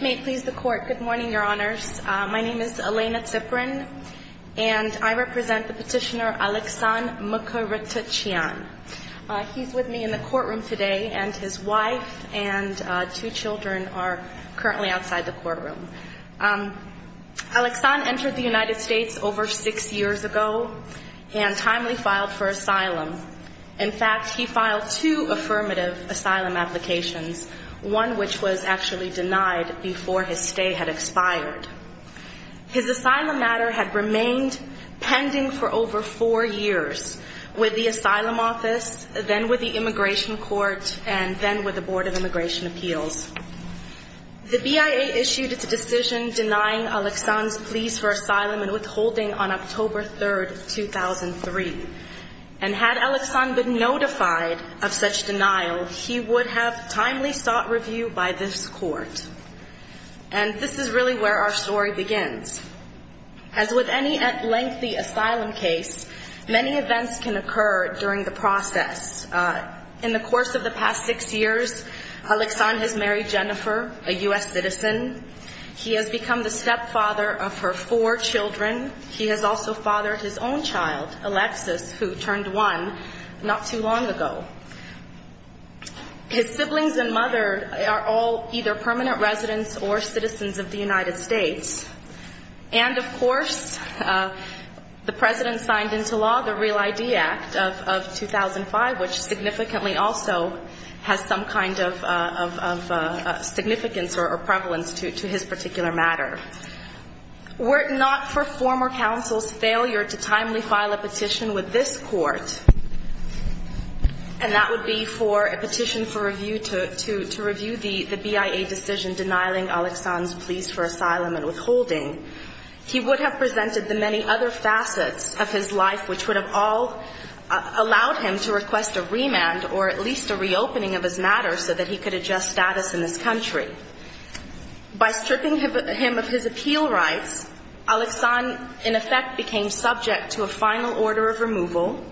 May it please the court. Good morning, your honors. My name is Elena Ziprin, and I represent the petitioner Alexan Mkrtchyan. He's with me in the courtroom today, and his wife and two children are currently outside the courtroom. Alexan entered the United States over six years ago and timely filed for asylum. In fact, he filed two affirmative asylum applications, one which was actually denied before his stay had expired. His asylum matter had remained pending for over four years with the Asylum Office, then with the Immigration Court, and then with the Board of Immigration Appeals. The BIA issued its decision denying Alexan's pleas for asylum and withholding on October 3rd, 2003. And had Alexan been notified of such denial, he would have timely sought review by this court. And this is really where our story begins. As with any lengthy asylum case, many events can occur during the process. In the course of the past six years, Alexan has married Jennifer, a U.S. citizen. He has become the stepfather of her four children. He has also fathered his own child, Alexis, who turned one not too long ago. His siblings and mother are all either permanent residents or citizens of the United States. And, of course, the President signed into law the Real ID Act of 2005, which significantly also has some kind of significance or prevalence to his particular matter. Were it not for former counsel's failure to timely file a petition with this court, and that would be for a petition for review to review the BIA decision denying Alexan's pleas for asylum and withholding, he would have presented the many other facets of his life which would have all allowed him to request a remand or at least a reopening of his matter so that he could adjust status in this country. By stripping him of his appeal rights, Alexan, in effect, became subject to a final order of removal.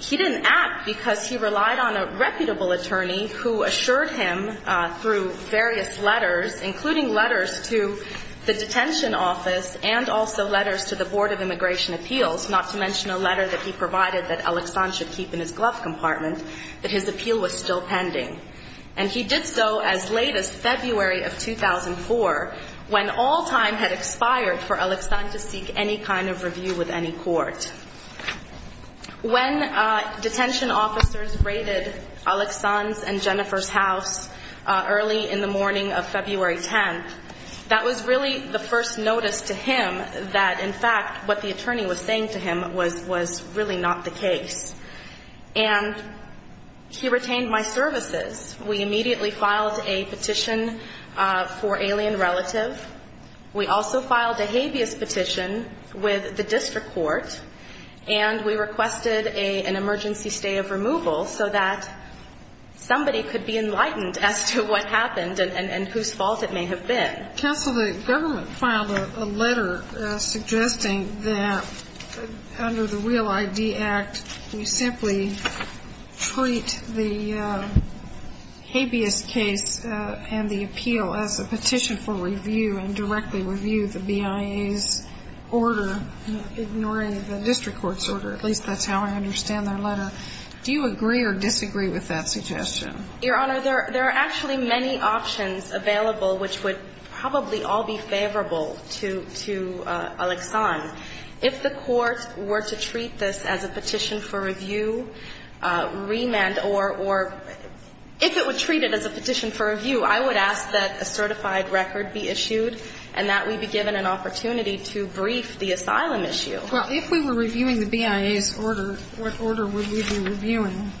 He didn't act because he relied on a reputable attorney who assured him through various letters, including letters to the detention office and also letters to the Board of Immigration Appeals, not to mention a letter that he provided that Alexan should keep in his glove compartment, that his appeal was still pending. And he did so as late as February of 2004, when all time had expired for Alexan to seek any kind of review with any court. When detention officers raided Alexan's and Jennifer's house early in the morning of February 10th, that was really the first notice to him that, in fact, what the attorney was saying to him was really not the case. And he retained my services. We immediately filed a petition for alien relative. We also filed a habeas petition with the district court, and we requested an emergency stay of removal so that somebody could be enlightened as to what happened and whose fault it may have been. Counsel, the government filed a letter suggesting that under the Real ID Act, we simply treat the habeas case and the appeal as a petition for review. And directly review the BIA's order, ignoring the district court's order. At least that's how I understand their letter. Do you agree or disagree with that suggestion? Your Honor, there are actually many options available, which would probably all be favorable to Alexan. If the court were to treat this as a petition for review, remand, or if it were treated as a petition for review, I would ask that a certified record be issued. And that we be given an opportunity to brief the asylum issue. Well, if we were reviewing the BIA's order, what order would we be reviewing?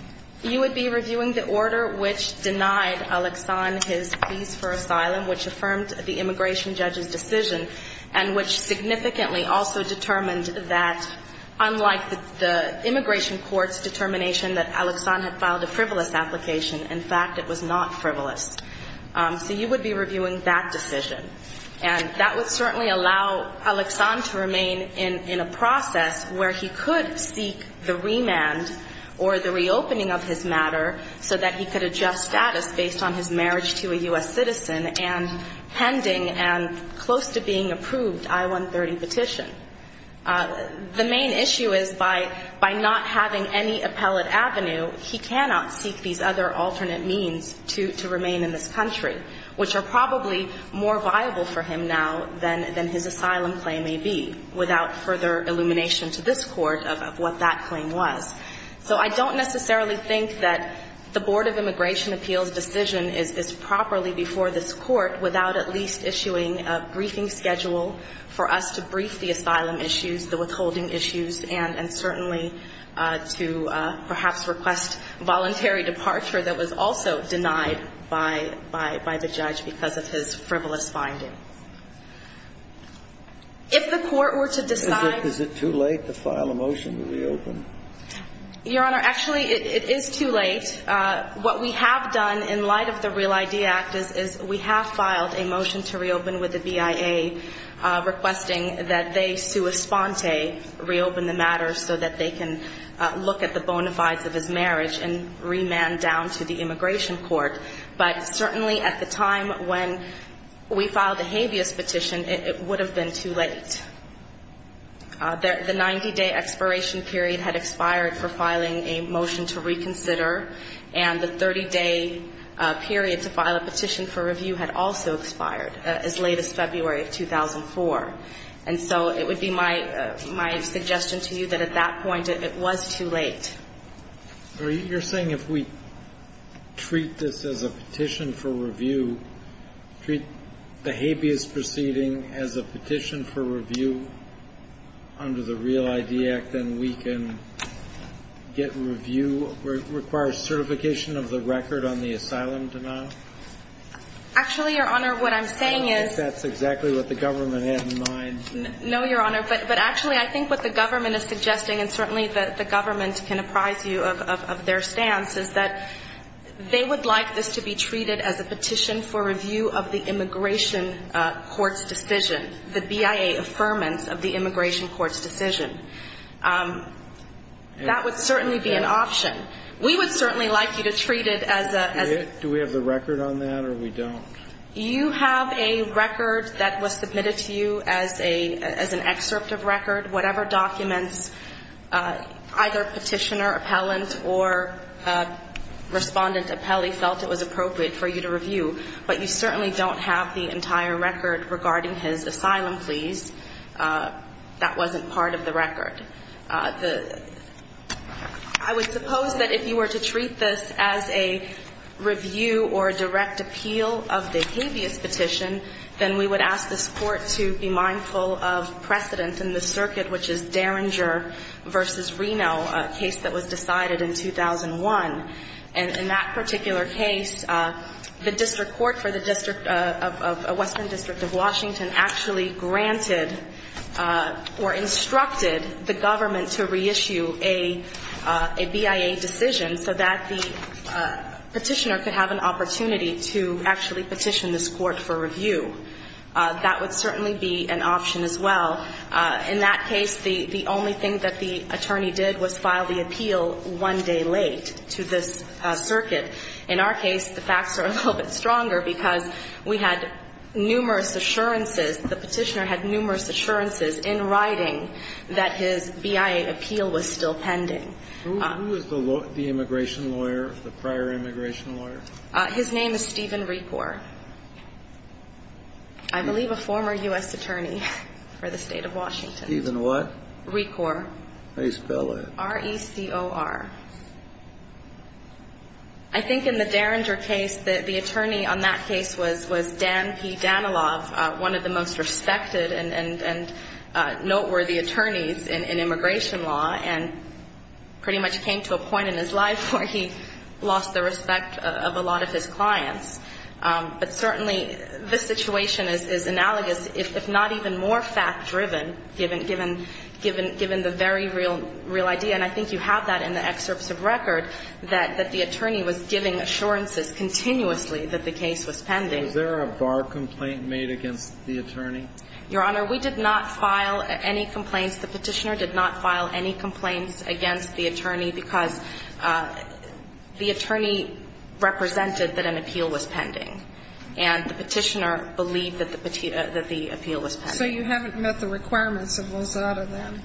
You would be reviewing the order which denied Alexan his pleas for asylum, which affirmed the immigration judge's decision, and which significantly also determined that, unlike the immigration court's determination that Alexan had filed a frivolous application, in fact, it was not frivolous. So you would be reviewing that decision. And that would certainly allow Alexan to remain in a process where he could seek the remand or the reopening of his matter so that he could adjust status based on his marriage to a U.S. citizen and pending and close to being approved I-130 petition. The main issue is by not having any appellate avenue, he cannot seek these other alternate means to remain in the process. And that's why I think it's important for us to have an appellate avenue in this country, which are probably more viable for him now than his asylum claim may be, without further illumination to this Court of what that claim was. So I don't necessarily think that the Board of Immigration Appeals' decision is properly before this Court without at least issuing a briefing schedule for us to brief the asylum issues, the withholding issues, and certainly to perhaps request voluntary departure that was also denied by the immigration judge. I don't think that the Board of Immigration Appeals' decision is properly before this Court without at least issuing a briefing schedule for us to brief the asylum issues, the withholding issues, and certainly to perhaps request voluntary departure that was also denied by the immigration judge. If the Court were to decide to file a motion to reopen. Your Honor, actually, it is too late. What we have done in light of the REAL-ID Act is we have filed a motion to reopen with the BIA requesting that they sua sponte reopen the matter so that they can look at the bona fides of his marriage and remand down to the immigration court. But certainly at the time when we filed the habeas petition, it would have been too late. The 90-day expiration period had expired for filing a motion to reconsider, and the 30-day period to file a petition for review had also expired as late as February of 2004. And so it would be my suggestion to you that at that point it was too late. You're saying if we treat this as a petition for review, treat the habeas proceeding as a petition for review under the REAL-ID Act, then we can get review, require certification of the record on the asylum denial? Actually, Your Honor, what I'm saying is... I don't think that's exactly what the government had in mind. No, Your Honor, but actually I think what the government is suggesting, and certainly the government can apprise you of their stance, is that they would like this to be treated as a petition for review of the immigration court's decision, the BIA affirmance of the immigration court's decision. That would certainly be an option. We would certainly like you to treat it as a... Do we have the record on that, or we don't? You have a record that was submitted to you as an excerpt of record, whatever documents either petitioner, appellant, or respondent appellee felt it was appropriate for you to review. But you certainly don't have the entire record regarding his asylum pleas. That wasn't part of the record. I would suppose that if you were to treat this as a review or a direct appeal of the BIA affirmance of the immigration court's decision, you would have to be mindful of precedent in the circuit, which is Derringer v. Reno, a case that was decided in 2001. And in that particular case, the district court for the district of Western District of Washington actually granted or instructed the government to reissue a BIA decision so that the petitioner could have an opportunity to actually petition this court for review. That would certainly be an option as well. In that case, the only thing that the attorney did was file the appeal one day late to this circuit. In our case, the facts are a little bit stronger because we had numerous assurances, the petitioner had numerous assurances in writing that his BIA appeal was still pending. Who was the immigration lawyer, the prior immigration lawyer? His name is Stephen Recor. I believe a former U.S. attorney for the state of Washington. Stephen what? Recor. How do you spell it? R-E-C-O-R. I think in the Derringer case, the attorney on that case was Dan P. Danilov, one of the most respected and noteworthy attorneys in immigration law. And he pretty much came to a point in his life where he lost the respect of a lot of his clients. But certainly, this situation is analogous, if not even more fact-driven, given the very real idea. And I think you have that in the excerpts of Recor that the attorney was giving assurances continuously that the case was pending. Was there a bar complaint made against the attorney? Your Honor, we did not file any complaints. The petitioner did not file any complaints against the attorney because the attorney represented that an appeal was pending. And the petitioner believed that the appeal was pending. So you haven't met the requirements of Lozada then?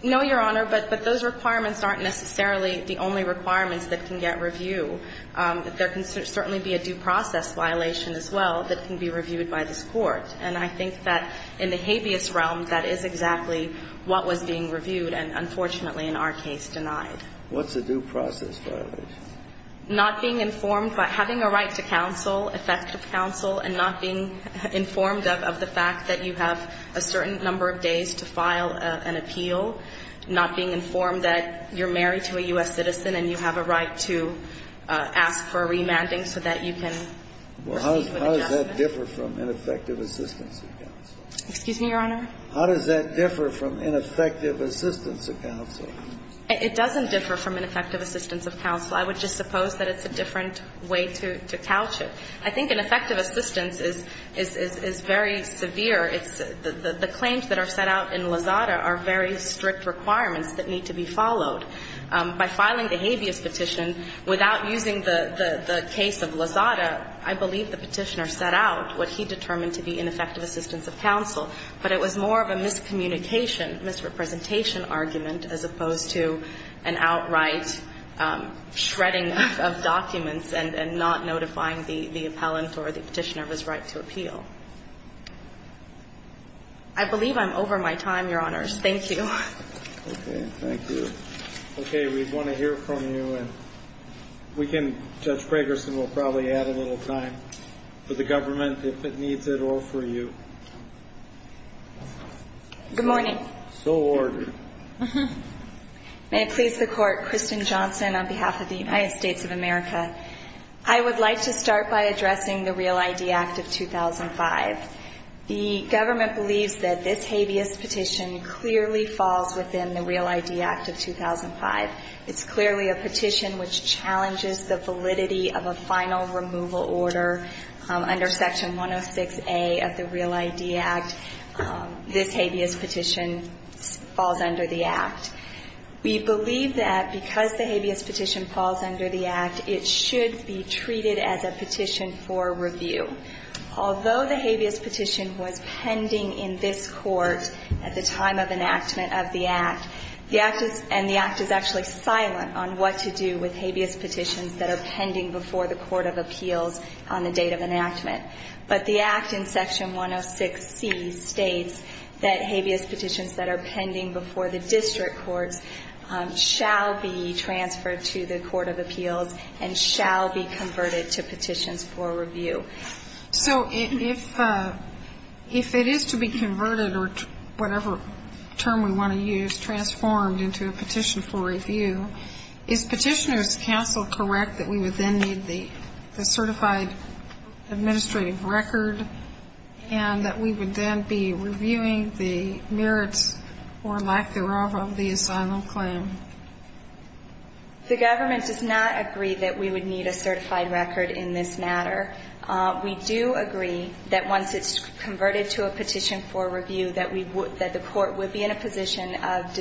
No, Your Honor, but those requirements aren't necessarily the only requirements that can get review. There can certainly be a due process violation as well that can be reviewed by this Court. And I think that in the habeas realm, that is exactly what was being reviewed and, unfortunately, in our case, denied. What's a due process violation? Not being informed by having a right to counsel, effective counsel, and not being informed of the fact that you have a certain number of days to file an appeal, not being informed that you're married to a U.S. citizen and you have a right to ask for a remanding so that you can receive an adjustment. Well, how does that differ from ineffective assistance of counsel? Excuse me, Your Honor? How does that differ from ineffective assistance of counsel? It doesn't differ from ineffective assistance of counsel. I would just suppose that it's a different way to couch it. I mean, the requirements that are in Lozada are very strict requirements that need to be followed. By filing the habeas petition, without using the case of Lozada, I believe the Petitioner set out what he determined to be ineffective assistance of counsel, but it was more of a miscommunication, misrepresentation argument as opposed to an outright shredding of documents and not notifying the appellant or the Petitioner of his right to appeal. So I think that's the difference. Thank you. Okay, we want to hear from you, and we can, Judge Fragerson will probably add a little time for the government, if it needs it, or for you. Good morning. May it please the Court, Kristen Johnson on behalf of the United States of America. I would like to start by addressing the Real ID Act of 2005. The government petition clearly falls within the Real ID Act of 2005. It's clearly a petition which challenges the validity of a final removal order. Under Section 106A of the Real ID Act, this habeas petition falls under the Act. We believe that because the habeas petition falls under the Act, it should be treated as a petition for review. Although the habeas petition was pending in this Court at the time of enactment of the Act, and the Act is actually silent on what to do with habeas petitions that are pending before the court of appeals on the date of enactment. But the Act in Section 106C states that habeas petitions that are pending before the district courts shall be transferred to the court of appeals and shall be converted to petitions for review. So if it is to be converted, or whatever term we want to use, transformed into a petition for review, is Petitioner's Counsel correct that we would then need the certified administrative record, and that we would then be reviewing the merits or lack thereof of the asylum claim? The government does not agree that we would need a certified record in this matter. We do agree that once it's converted to a petition for review, that we would, that the court would be in a position of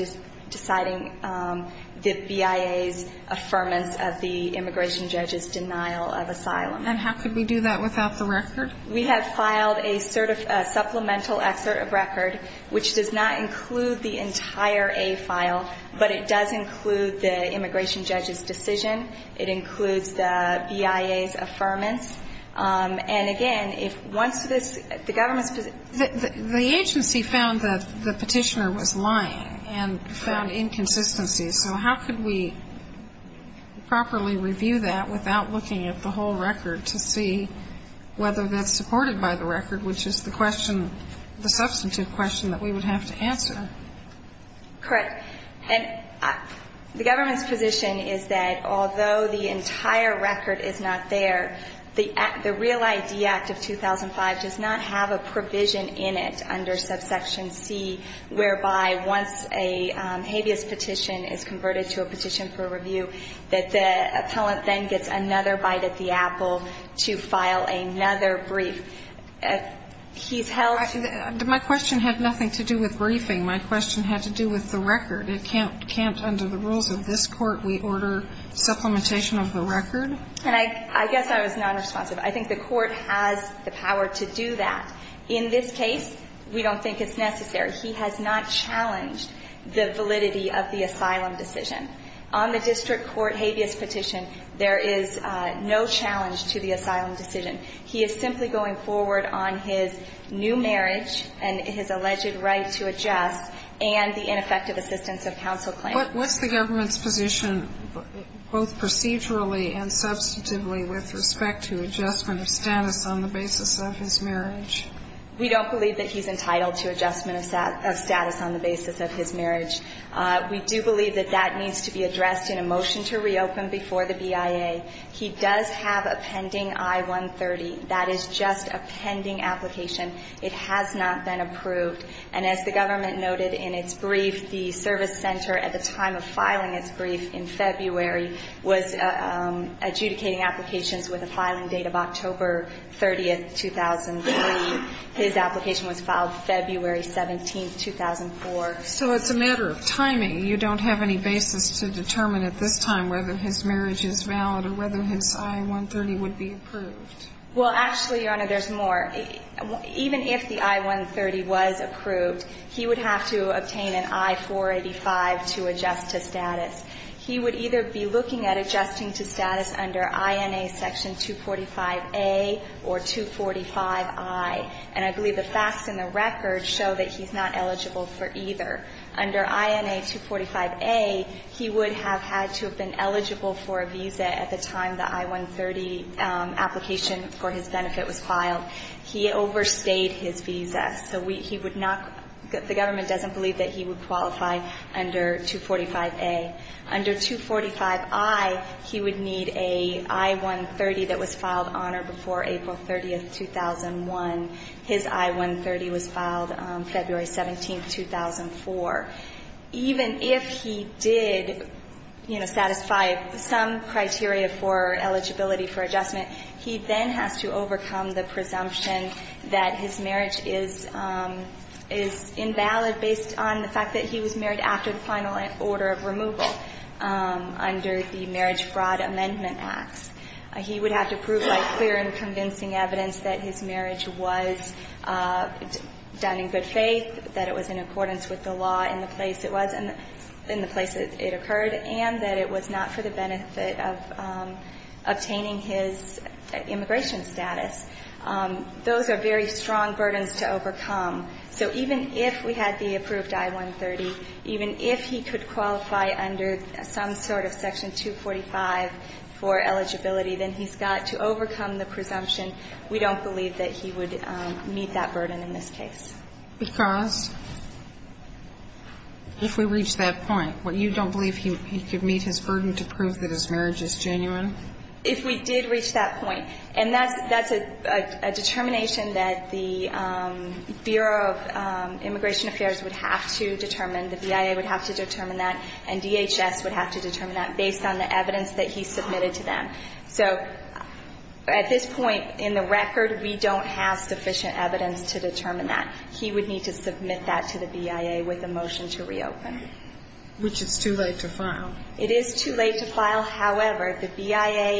deciding the BIA's affirmance of the immigration judge's denial of asylum. And how could we do that without the record? We have filed a supplemental excerpt of record, which does not include the entire A file, but it does include the immigration judge's decision. It includes the BIA's affirmance. And again, if once this, the government's position ---- The agency found that the Petitioner was lying and found inconsistencies. So how could we properly review that without looking at the whole record to see whether that's supported by the record, which is the question, the substantive question that we would have to answer? Correct. And the government's position is that although the entire record is not there, the Real ID Act of 2005 does not have a provision in it under subsection C, whereby once a habeas petition is converted to a petition for review, that the court is not required at the Apple to file another brief. He's held ---- My question had nothing to do with briefing. My question had to do with the record. It can't, under the rules of this Court, we order supplementation of the record? And I guess I was nonresponsive. I think the Court has the power to do that. In this case, we don't think it's necessary. He has not challenged the validity of the asylum decision. On the district court habeas petition, there is no provision or challenge to the asylum decision. He is simply going forward on his new marriage and his alleged right to adjust and the ineffective assistance of counsel claim. But what's the government's position both procedurally and substantively with respect to adjustment of status on the basis of his marriage? We don't believe that he's entitled to adjustment of status on the basis of his marriage. We do believe that that needs to be addressed in a motion to reopen before the BIA. He does have a pending I-130. That is just a pending application. It has not been approved. And as the government noted in its brief, the service center at the time of filing its brief in February was adjudicating applications with a filing date of October 30, 2003. His application was filed February 17, 2004. So it's a matter of timing. You don't have any basis to determine at this time whether his marriage is valid or whether his I-130 would be approved. Well, actually, Your Honor, there's more. Even if the I-130 was approved, he would have to obtain an I-485 to adjust to status. He would either be looking at adjusting to status under INA section 245A or 245I. And I believe the facts in the record show that he's not eligible for either. Under INA 245A, he would have had to have been eligible for a visa at the time the I-130 application for his benefit was filed. He overstayed his visa. So we he would not the government doesn't believe that he would qualify under 245A. Under 245I, he would need an I-130 that was filed on or before April 30, 2001. His I-130 was filed February 17, 2004. Even if he did, you know, satisfy some criteria for eligibility for adjustment, he then has to overcome the presumption that his marriage is invalid based on the fact that he was married after the final order of removal under the Marriage Fraud Amendment Acts. He would have to prove by clear and convincing evidence that his marriage was done in good faith, that it was in accordance with the law, in the place it was, in the place it occurred, and that it was not for the benefit of obtaining his immigration status. Those are very strong burdens to overcome. So even if we had the approved I-130, even if he could qualify under some sort of section 245 for eligibility, then he's got to overcome the presumption we don't believe that he would meet that burden in this case. Because if we reach that point, what, you don't believe he could meet his burden to prove that his marriage is genuine? If we did reach that point, and that's a determination that the Bureau of Immigration Affairs would have to determine, the BIA would have to determine that, and DHS would have to determine that based on the evidence that he submitted to them. So at this point in the record, we don't have sufficient evidence to determine that. He would need to submit that to the BIA with a motion to reopen. Which is too late to file. It is too late to file. However, the BIA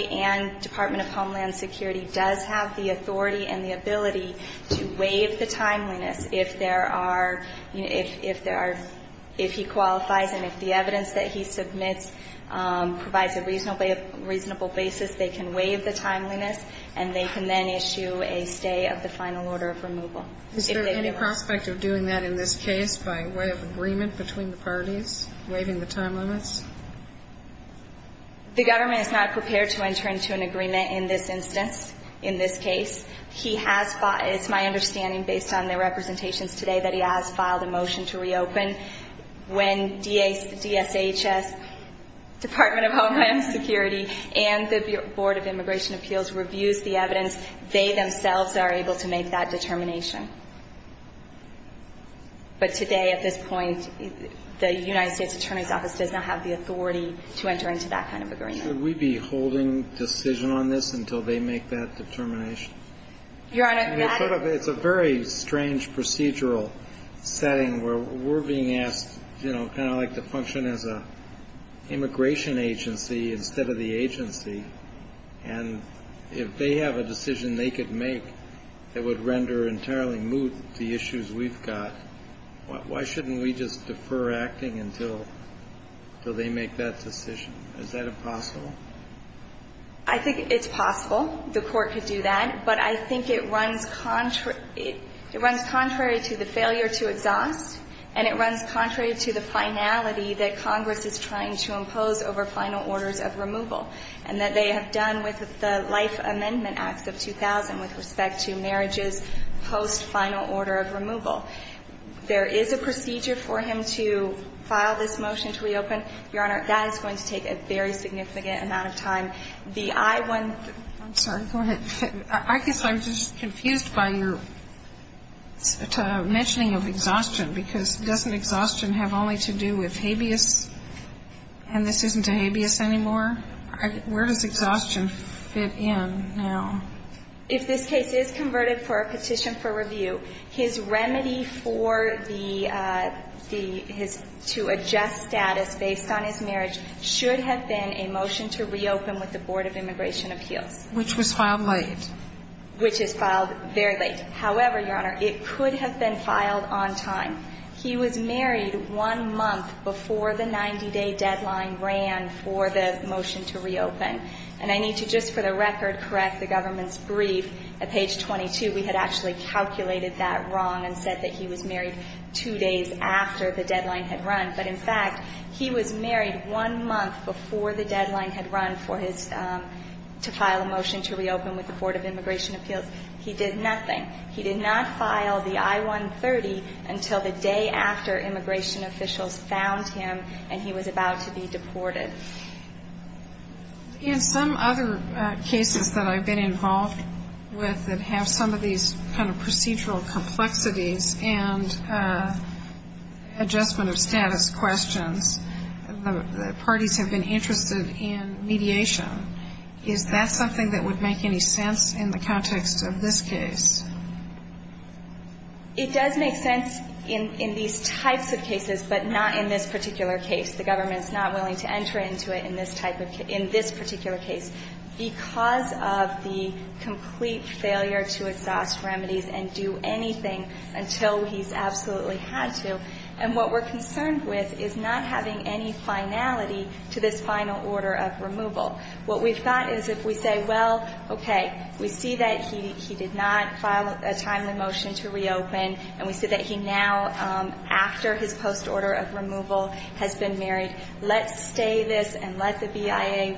and Department of Homeland Security does have the authority and the ability to waive the timeliness if there are, if there are, if he qualifies and if the evidence that he submits provides a reasonable basis, they can waive the timeliness, and they can then issue a stay of the final order of removal. Is there any prospect of doing that in this case by way of agreement between the parties, waiving the timeliness? The government is not prepared to enter into an agreement in this instance, in this case. He has, it's my understanding based on the representations today that he has filed a motion to reopen. When DHS, Department of Homeland Security and the Board of Immigration Appeals reviews the evidence, they themselves are able to make that determination. But today, at this point, the United States Attorney's Office does not have the authority to enter into that kind of agreement. Should we be holding decision on this until they make that determination? Your Honor, that It's a very strange procedural setting where we're being asked, you know, kind of like to function as a immigration agency instead of the agency, and if they have a decision that would render entirely moot the issues we've got, why shouldn't we just defer acting until they make that decision? Is that impossible? I think it's possible the Court could do that, but I think it runs contrary to the failure to exhaust, and it runs contrary to the finality that Congress is trying to impose over final orders of removal, and that they have done with the Amendment Acts of 2000 with respect to marriages post final order of removal. There is a procedure for him to file this motion to reopen. Your Honor, that is going to take a very significant amount of time. The I-1 I'm sorry. Go ahead. I guess I'm just confused by your mentioning of exhaustion, because doesn't exhaustion have only to do with habeas, and this isn't a habeas anymore? Where does exhaustion fit in now? If this case is converted for a petition for review, his remedy for the his to adjust status based on his marriage should have been a motion to reopen with the Board of Immigration Appeals. Which was filed late. Which is filed very late. However, Your Honor, it could have been filed on time. He was married one month before the 90-day deadline ran for the motion to reopen. And I need to just for the record correct the government's brief. At page 22, we had actually calculated that wrong and said that he was married two days after the deadline had run. But in fact, he was married one month before the deadline had run for his to file a motion to reopen with the Board of Immigration Appeals. He did nothing. He did not file the I-130 until the day after immigration officials found him and he was about to be deported. In some other cases that I've been involved with that have some of these kind of procedural complexities and adjustment of status questions, the parties have been interested in mediation. Is that something that would make any sense in the context of this case? It does make sense in these types of cases, but not in this particular case. The government's not willing to enter into it in this particular case because of the complete failure to exhaust remedies and do anything until he's absolutely had to. And what we're concerned with is not having any finality to this final order of removal. What we've got is if we say, well, okay, we see that he did not file a timely motion to reopen and we see that he now, after his post-order of removal, has been married. Let's stay this and let the BIA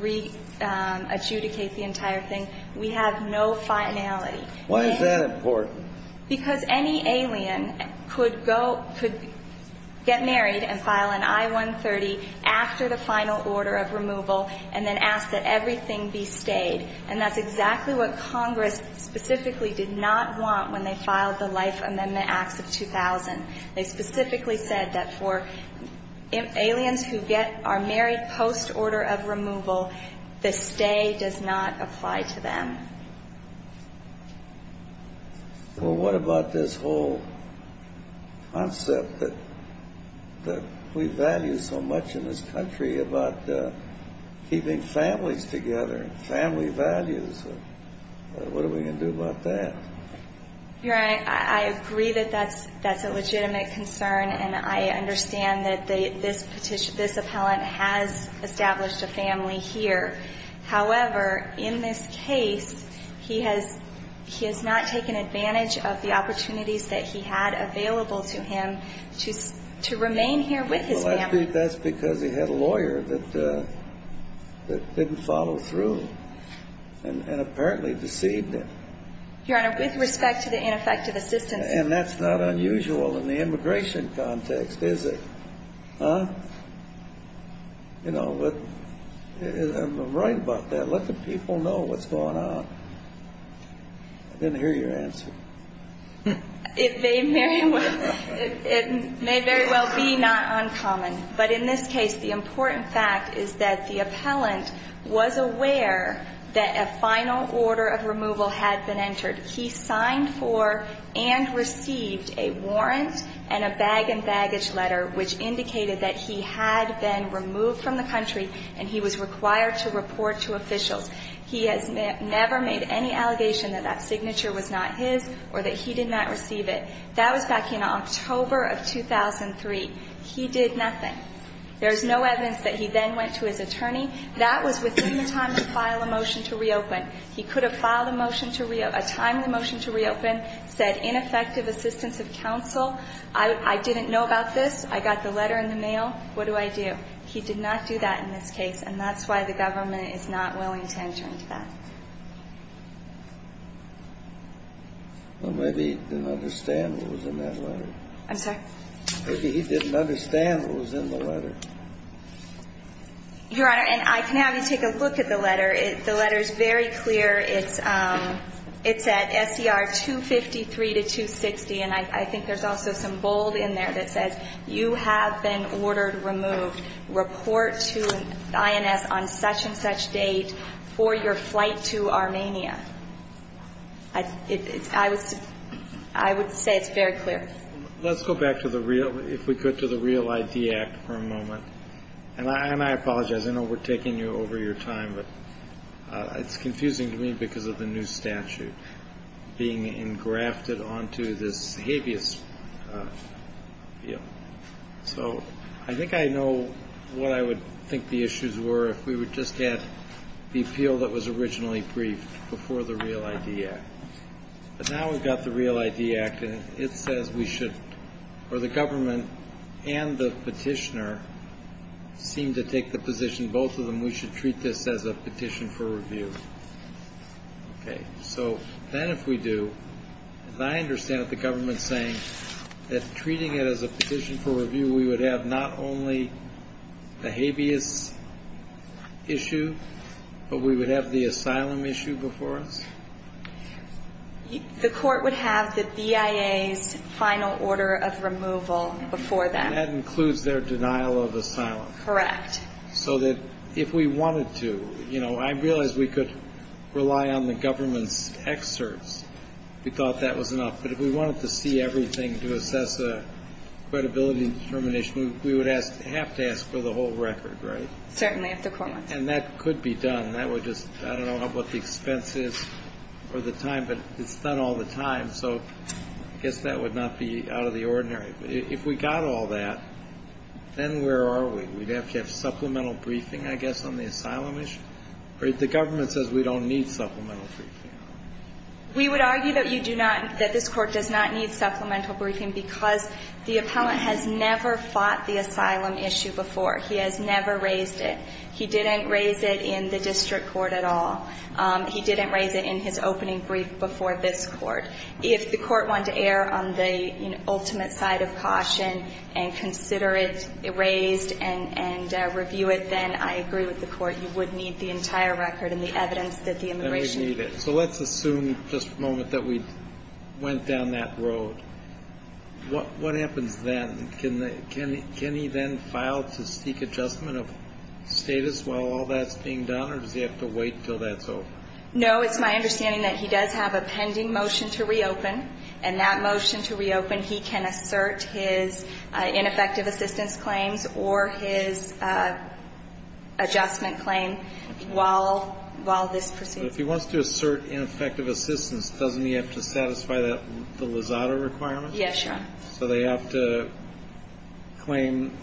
re-adjudicate the entire thing. We have no finality. Why is that important? Because any alien could get married and file an I-130 after the final order of removal and then ask that everything be stayed. And that's exactly what Congress specifically did not want when they filed the Life Amendment Acts of 2000. They specifically said that for aliens who get or are married post-order of removal, the stay does not apply to them. Well, what about this whole concept that we value so much in this country about keeping families together, family values? What are we going to do about that? Your Honor, I agree that that's a legitimate concern, and I understand that this appellant has established a family here. However, in this case, he has not taken advantage of the opportunities that he had available to him to remain here with his family. Well, I think that's because he had a lawyer that didn't follow through and apparently deceived him. Your Honor, with respect to the ineffective assistance... And that's not unusual in the immigration context, is it? Huh? You know, I'm right about that. Let the people know what's going on. I didn't hear your answer. It may very well be not uncommon. But in this case, the important fact is that the appellant was aware that a final order of removal had been entered. He signed for and received a warrant and a bag and baggage letter which indicated that he had been removed from the country and he was required to report to officials. He has never made any allegation that that signature was not his or that he did not receive it. That was back in October of 2003. He did nothing. There's no evidence that he then went to his attorney. That was within the time to file a motion to reopen. He could have filed a motion to reopen, said ineffective assistance of counsel. I didn't know about this. I got the letter in the mail. What do I do? He did not do that in this case. And that's why the government is not willing to enter into that. Well, maybe he didn't understand what was in that letter. I'm sorry? Maybe he didn't understand what was in the letter. Your Honor, and I can have you take a look at the letter. The letter is very clear. It's at S.E.R. 253 to 260. And I think there's also some bold in there that says you have been ordered removed. Report to INS on such and such date for your flight to Armenia. I would say it's very clear. Let's go back to the real, if we could, to the Real ID Act for a moment. And I apologize. I know we're taking you over your time, but it's confusing to me because of the new statute being engrafted onto this habeas field. So I think I know what I would think the issues were if we would just get the appeal that was originally briefed before the Real ID Act. But now we've got the Real ID Act, and it says we should, or the government and the petitioner seem to take the position, both of them, we should treat this as a petition for review. Okay. So then if we do, and I understand what the government is saying, that treating it as a petition for review, we would have not only the habeas issue, but we would have the asylum issue before us? The court would have the BIA's final order of removal before them. And that includes their denial of asylum. Correct. So that if we wanted to, you know, I realize we could rely on the government's excerpts. We thought that was enough. But if we wanted to see everything to assess the credibility determination, we would have to ask for the whole record, right? Certainly, if the court wants to. And that could be done. That would just, I don't know what the expense is or the time, but it's done all the time. So I guess that would not be out of the ordinary. If we got all that, then where are we? We'd have to have supplemental briefing, I would argue that you do not, that this court does not need supplemental briefing because the appellant has never fought the asylum issue before. He has never raised it. He didn't raise it in the district court at all. He didn't raise it in his opening brief before this court. If the court wanted to err on the ultimate side of caution and consider it raised and review it, then I agree with the court. You would need the entire record and the evidence that the immigration. So let's assume, just for a moment, that we went down that road. What happens then? Can he then file to seek adjustment of status while all that's being done or does he have to wait until that's over? No, it's my understanding that he does have a pending motion to reopen. And that motion to reopen, he can assert his ineffective assistance claims or his adjustment claim while this proceeds. But if he wants to assert ineffective assistance, doesn't he have to satisfy the Lozada requirement? Yes, Your Honor. So they have to claim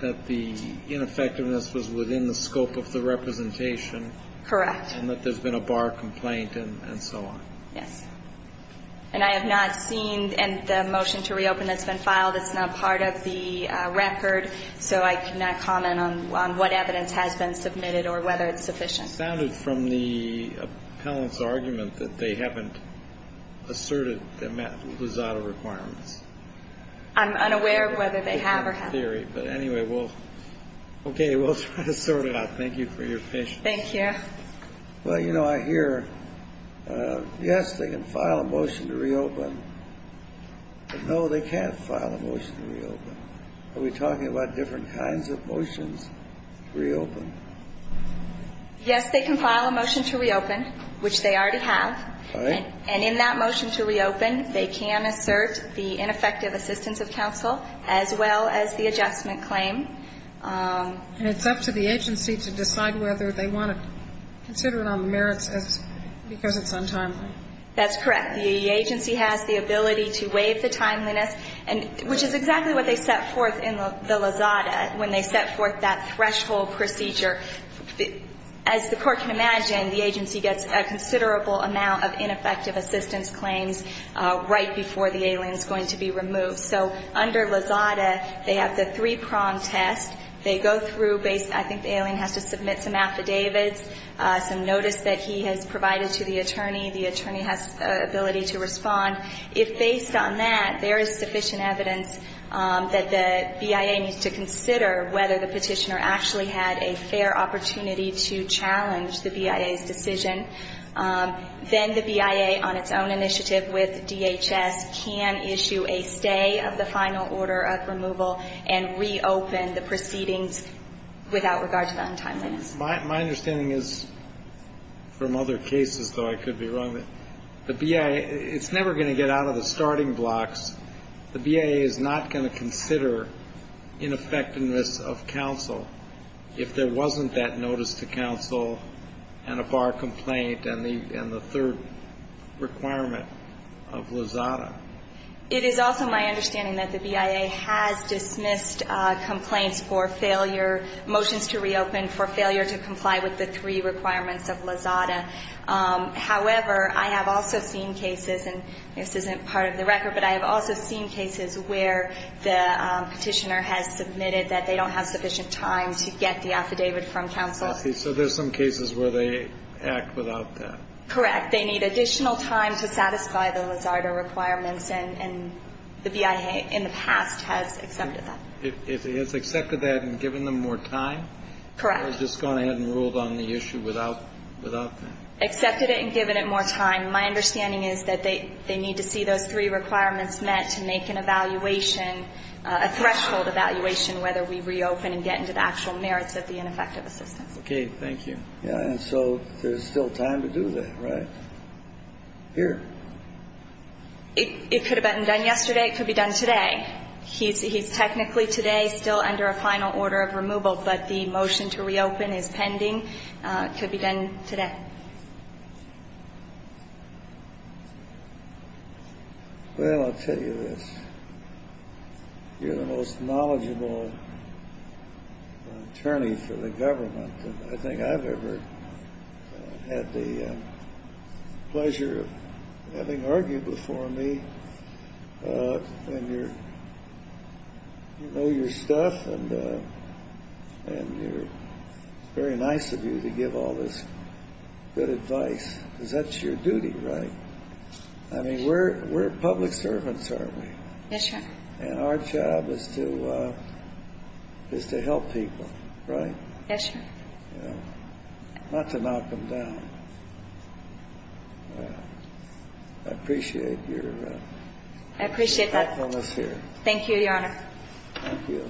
that the ineffectiveness was within the scope of the representation. Correct. And that there's been a bar complaint and so on. Yes. And I have not seen the motion to reopen that's been filed. It's not part of the record. So I cannot comment on what evidence has been submitted or whether it's sufficient. It sounded from the appellant's argument that they haven't asserted the Lozada requirements. I'm unaware of whether they have or haven't. But anyway, we'll try to sort it out. Thank you for your patience. Thank you. Well, you know, I hear, yes, they can file a motion to reopen. But no, they can't file a motion to reopen. Are we talking about different kinds of motions to reopen? Yes, they can file a motion to reopen, which they already have. All right. And in that motion to reopen, they can assert the ineffective assistance of counsel as well as the adjustment claim. And it's up to the agency to decide whether they want to consider it on the merits because it's untimely. That's correct. The agency has the ability to waive the timeliness, which is exactly what they set forth in the Lozada when they set forth that threshold procedure. As the Court can imagine, the agency gets a considerable amount of ineffective assistance claims right before the alien is going to be removed. So under Lozada, they have the three-prong test. They go through, I think the alien has to submit some affidavits, some notice that he has provided to the attorney. The attorney has the ability to respond. If, based on that, there is sufficient evidence that the BIA needs to consider whether the petitioner actually had a fair opportunity to challenge the BIA's decision, then the BIA on its own initiative with DHS can issue a stay of the final order of removal and reopen the proceedings without regard to the untimeliness. My understanding is, from other cases, though, I could be wrong, that the BIA, it's never going to get out of the starting blocks. The BIA is not going to consider ineffectiveness of counsel if there wasn't that notice to counsel and a bar complaint and the third requirement of Lozada. It is also my understanding that the BIA has dismissed complaints for failure, for motions to reopen, for failure to comply with the three requirements of Lozada. However, I have also seen cases, and this isn't part of the record, but I have also seen cases where the petitioner has submitted that they don't have sufficient time to get the affidavit from counsel. So there's some cases where they act without that. Correct. They need additional time to satisfy the Lozada requirements, and the BIA in the past has accepted that. It has accepted that and given them more time? Correct. Or just gone ahead and ruled on the issue without that? Accepted it and given it more time. My understanding is that they need to see those three requirements met to make an evaluation, a threshold evaluation, whether we reopen and get into the actual merits of the ineffective assistance. Okay. Thank you. And so there's still time to do that, right? Here. It could have been done yesterday. It could be done today. He's technically today still under a final order of removal, but the motion to reopen is pending. It could be done today. Well, I'll tell you this. You're the most knowledgeable attorney for the government. I think I've ever had the pleasure of having argued before me. You know your stuff, and it's very nice of you to give all this good advice, because that's your duty, right? I mean, we're public servants, aren't we? Yes, sir. And our job is to help people, right? Yes, sir. Not to knock them down. I appreciate your thoughtfulness here. I appreciate that. Thank you, Your Honor. Thank you. Your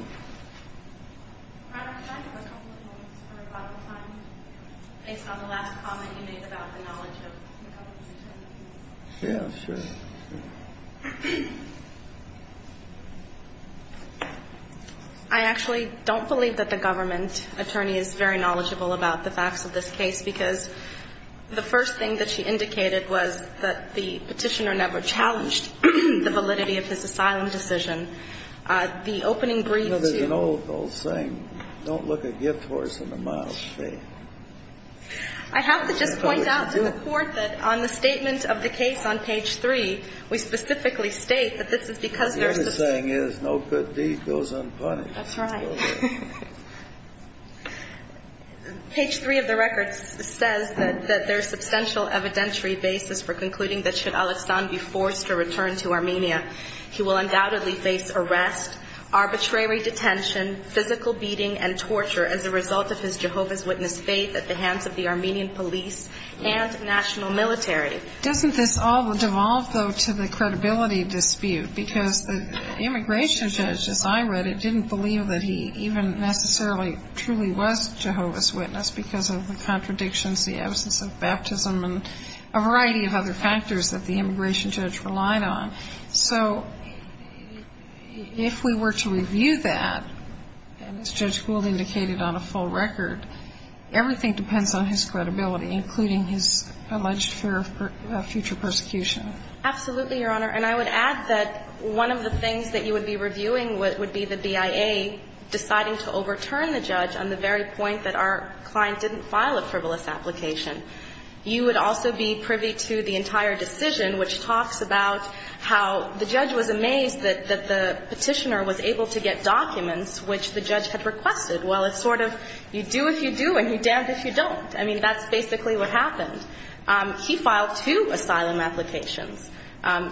Honor, could I have a couple of minutes for rebuttal time, based on the last comment you made about the knowledge of the government attorney? Yeah, sure. I actually don't believe that the government attorney is very knowledgeable about the facts of this case, because the first thing that she indicated was that the Petitioner never challenged the validity of his asylum decision. The opening brief to you. Well, there's an old saying, don't look a gift horse in the mouth. I have to just point out to the Court that on the statement of the case on page three, we specifically state that this is because there are substantial The only thing is, no good deed goes unpunished. That's right. Page three of the record says that there is substantial evidentiary basis for concluding that should Al-Istan be forced to return to Armenia, he will undoubtedly face arrest, arbitrary detention, physical beating, and torture as a result of his Jehovah's Witness faith at the hands of the Armenian police and national military. Doesn't this all devolve, though, to the credibility dispute, because the immigration judge, as I read it, didn't believe that he even necessarily truly was Jehovah's Witness because of the contradictions, the absence of baptism, and a variety of other factors that the immigration judge relied on. So if we were to review that, as Judge Gould indicated on a full record, everything depends on his credibility, including his alleged fear of future persecution. Absolutely, Your Honor. And I would add that one of the things that you would be reviewing would be the BIA deciding to overturn the judge on the very point that our client didn't file a frivolous application. You would also be privy to the entire decision, which talks about how the judge was amazed that the Petitioner was able to get documents which the judge had requested. Well, it's sort of you do if you do and you damned if you don't. I mean, that's basically what happened. He filed two asylum applications.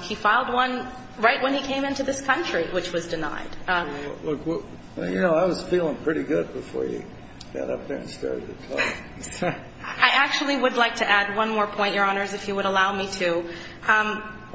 He filed one right when he came into this country, which was denied. Well, you know, I was feeling pretty good before you got up there and started the talk. I actually would like to add one more point, Your Honors, if you would allow me to.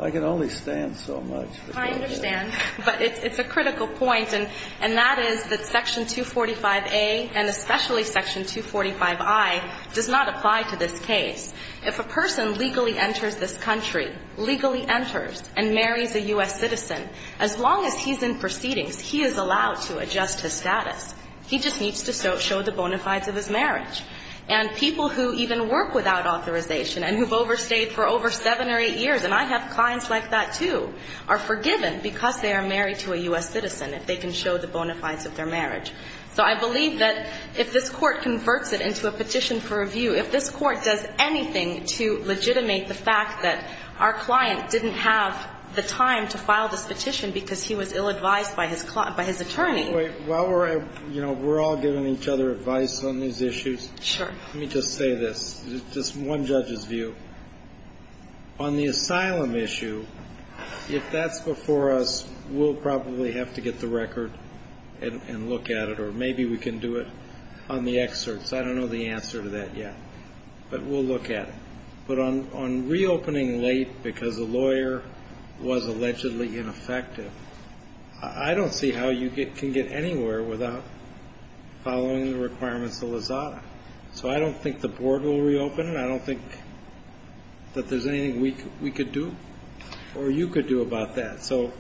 I can only stand so much. I understand. But it's a critical point, and that is that Section 245A and especially Section 245I does not apply to this case. If a person legally enters this country, legally enters and marries a U.S. citizen, as long as he's in proceedings, he is allowed to adjust his status. He just needs to show the bona fides of his marriage. And people who even work without authorization and who have overstayed for over seven or eight years, and I have clients like that, too, are forgiven because they are married to a U.S. citizen if they can show the bona fides of their marriage. So I believe that if this Court converts it into a petition for review, if this Court does anything to legitimate the fact that our client didn't have the time to file this petition because he was ill-advised by his attorney. Wait. While we're all giving each other advice on these issues, let me just say this, just one judge's view. On the asylum issue, if that's before us, we'll probably have to get the record and look at it, or maybe we can do it on the excerpts. I don't know the answer to that yet, but we'll look at it. But on reopening late because a lawyer was allegedly ineffective, I don't see how you can get anywhere without following the requirements of LAZADA. So I don't think the Board will reopen, and I don't think that there's anything we could do or you could do about that. So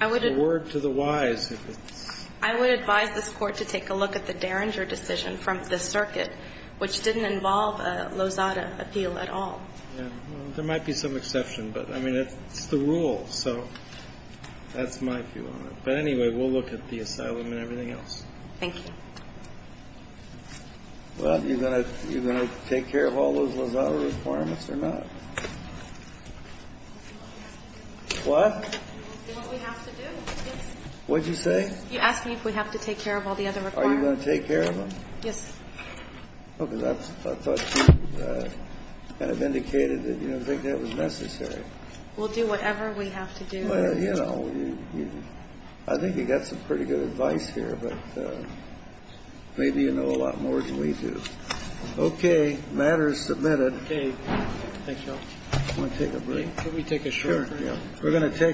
a word to the wise. I would advise this Court to take a look at the Derringer decision from the circuit, which didn't involve a LAZADA appeal at all. There might be some exception, but, I mean, it's the rule, so that's my view on it. But anyway, we'll look at the asylum and everything else. Thank you. Well, are you going to take care of all those LAZADA requirements or not? We'll do what we have to do. What? We'll do what we have to do, yes. What did you say? You asked me if we have to take care of all the other requirements. Are you going to take care of them? Yes. Oh, because I thought you kind of indicated that you didn't think that was necessary. We'll do whatever we have to do. Well, you know, I think you've got some pretty good advice here, but maybe you know a lot more than we do. Okay, matter is submitted. Okay. Thank you. You want to take a break? Can we take a short break? Sure, yeah.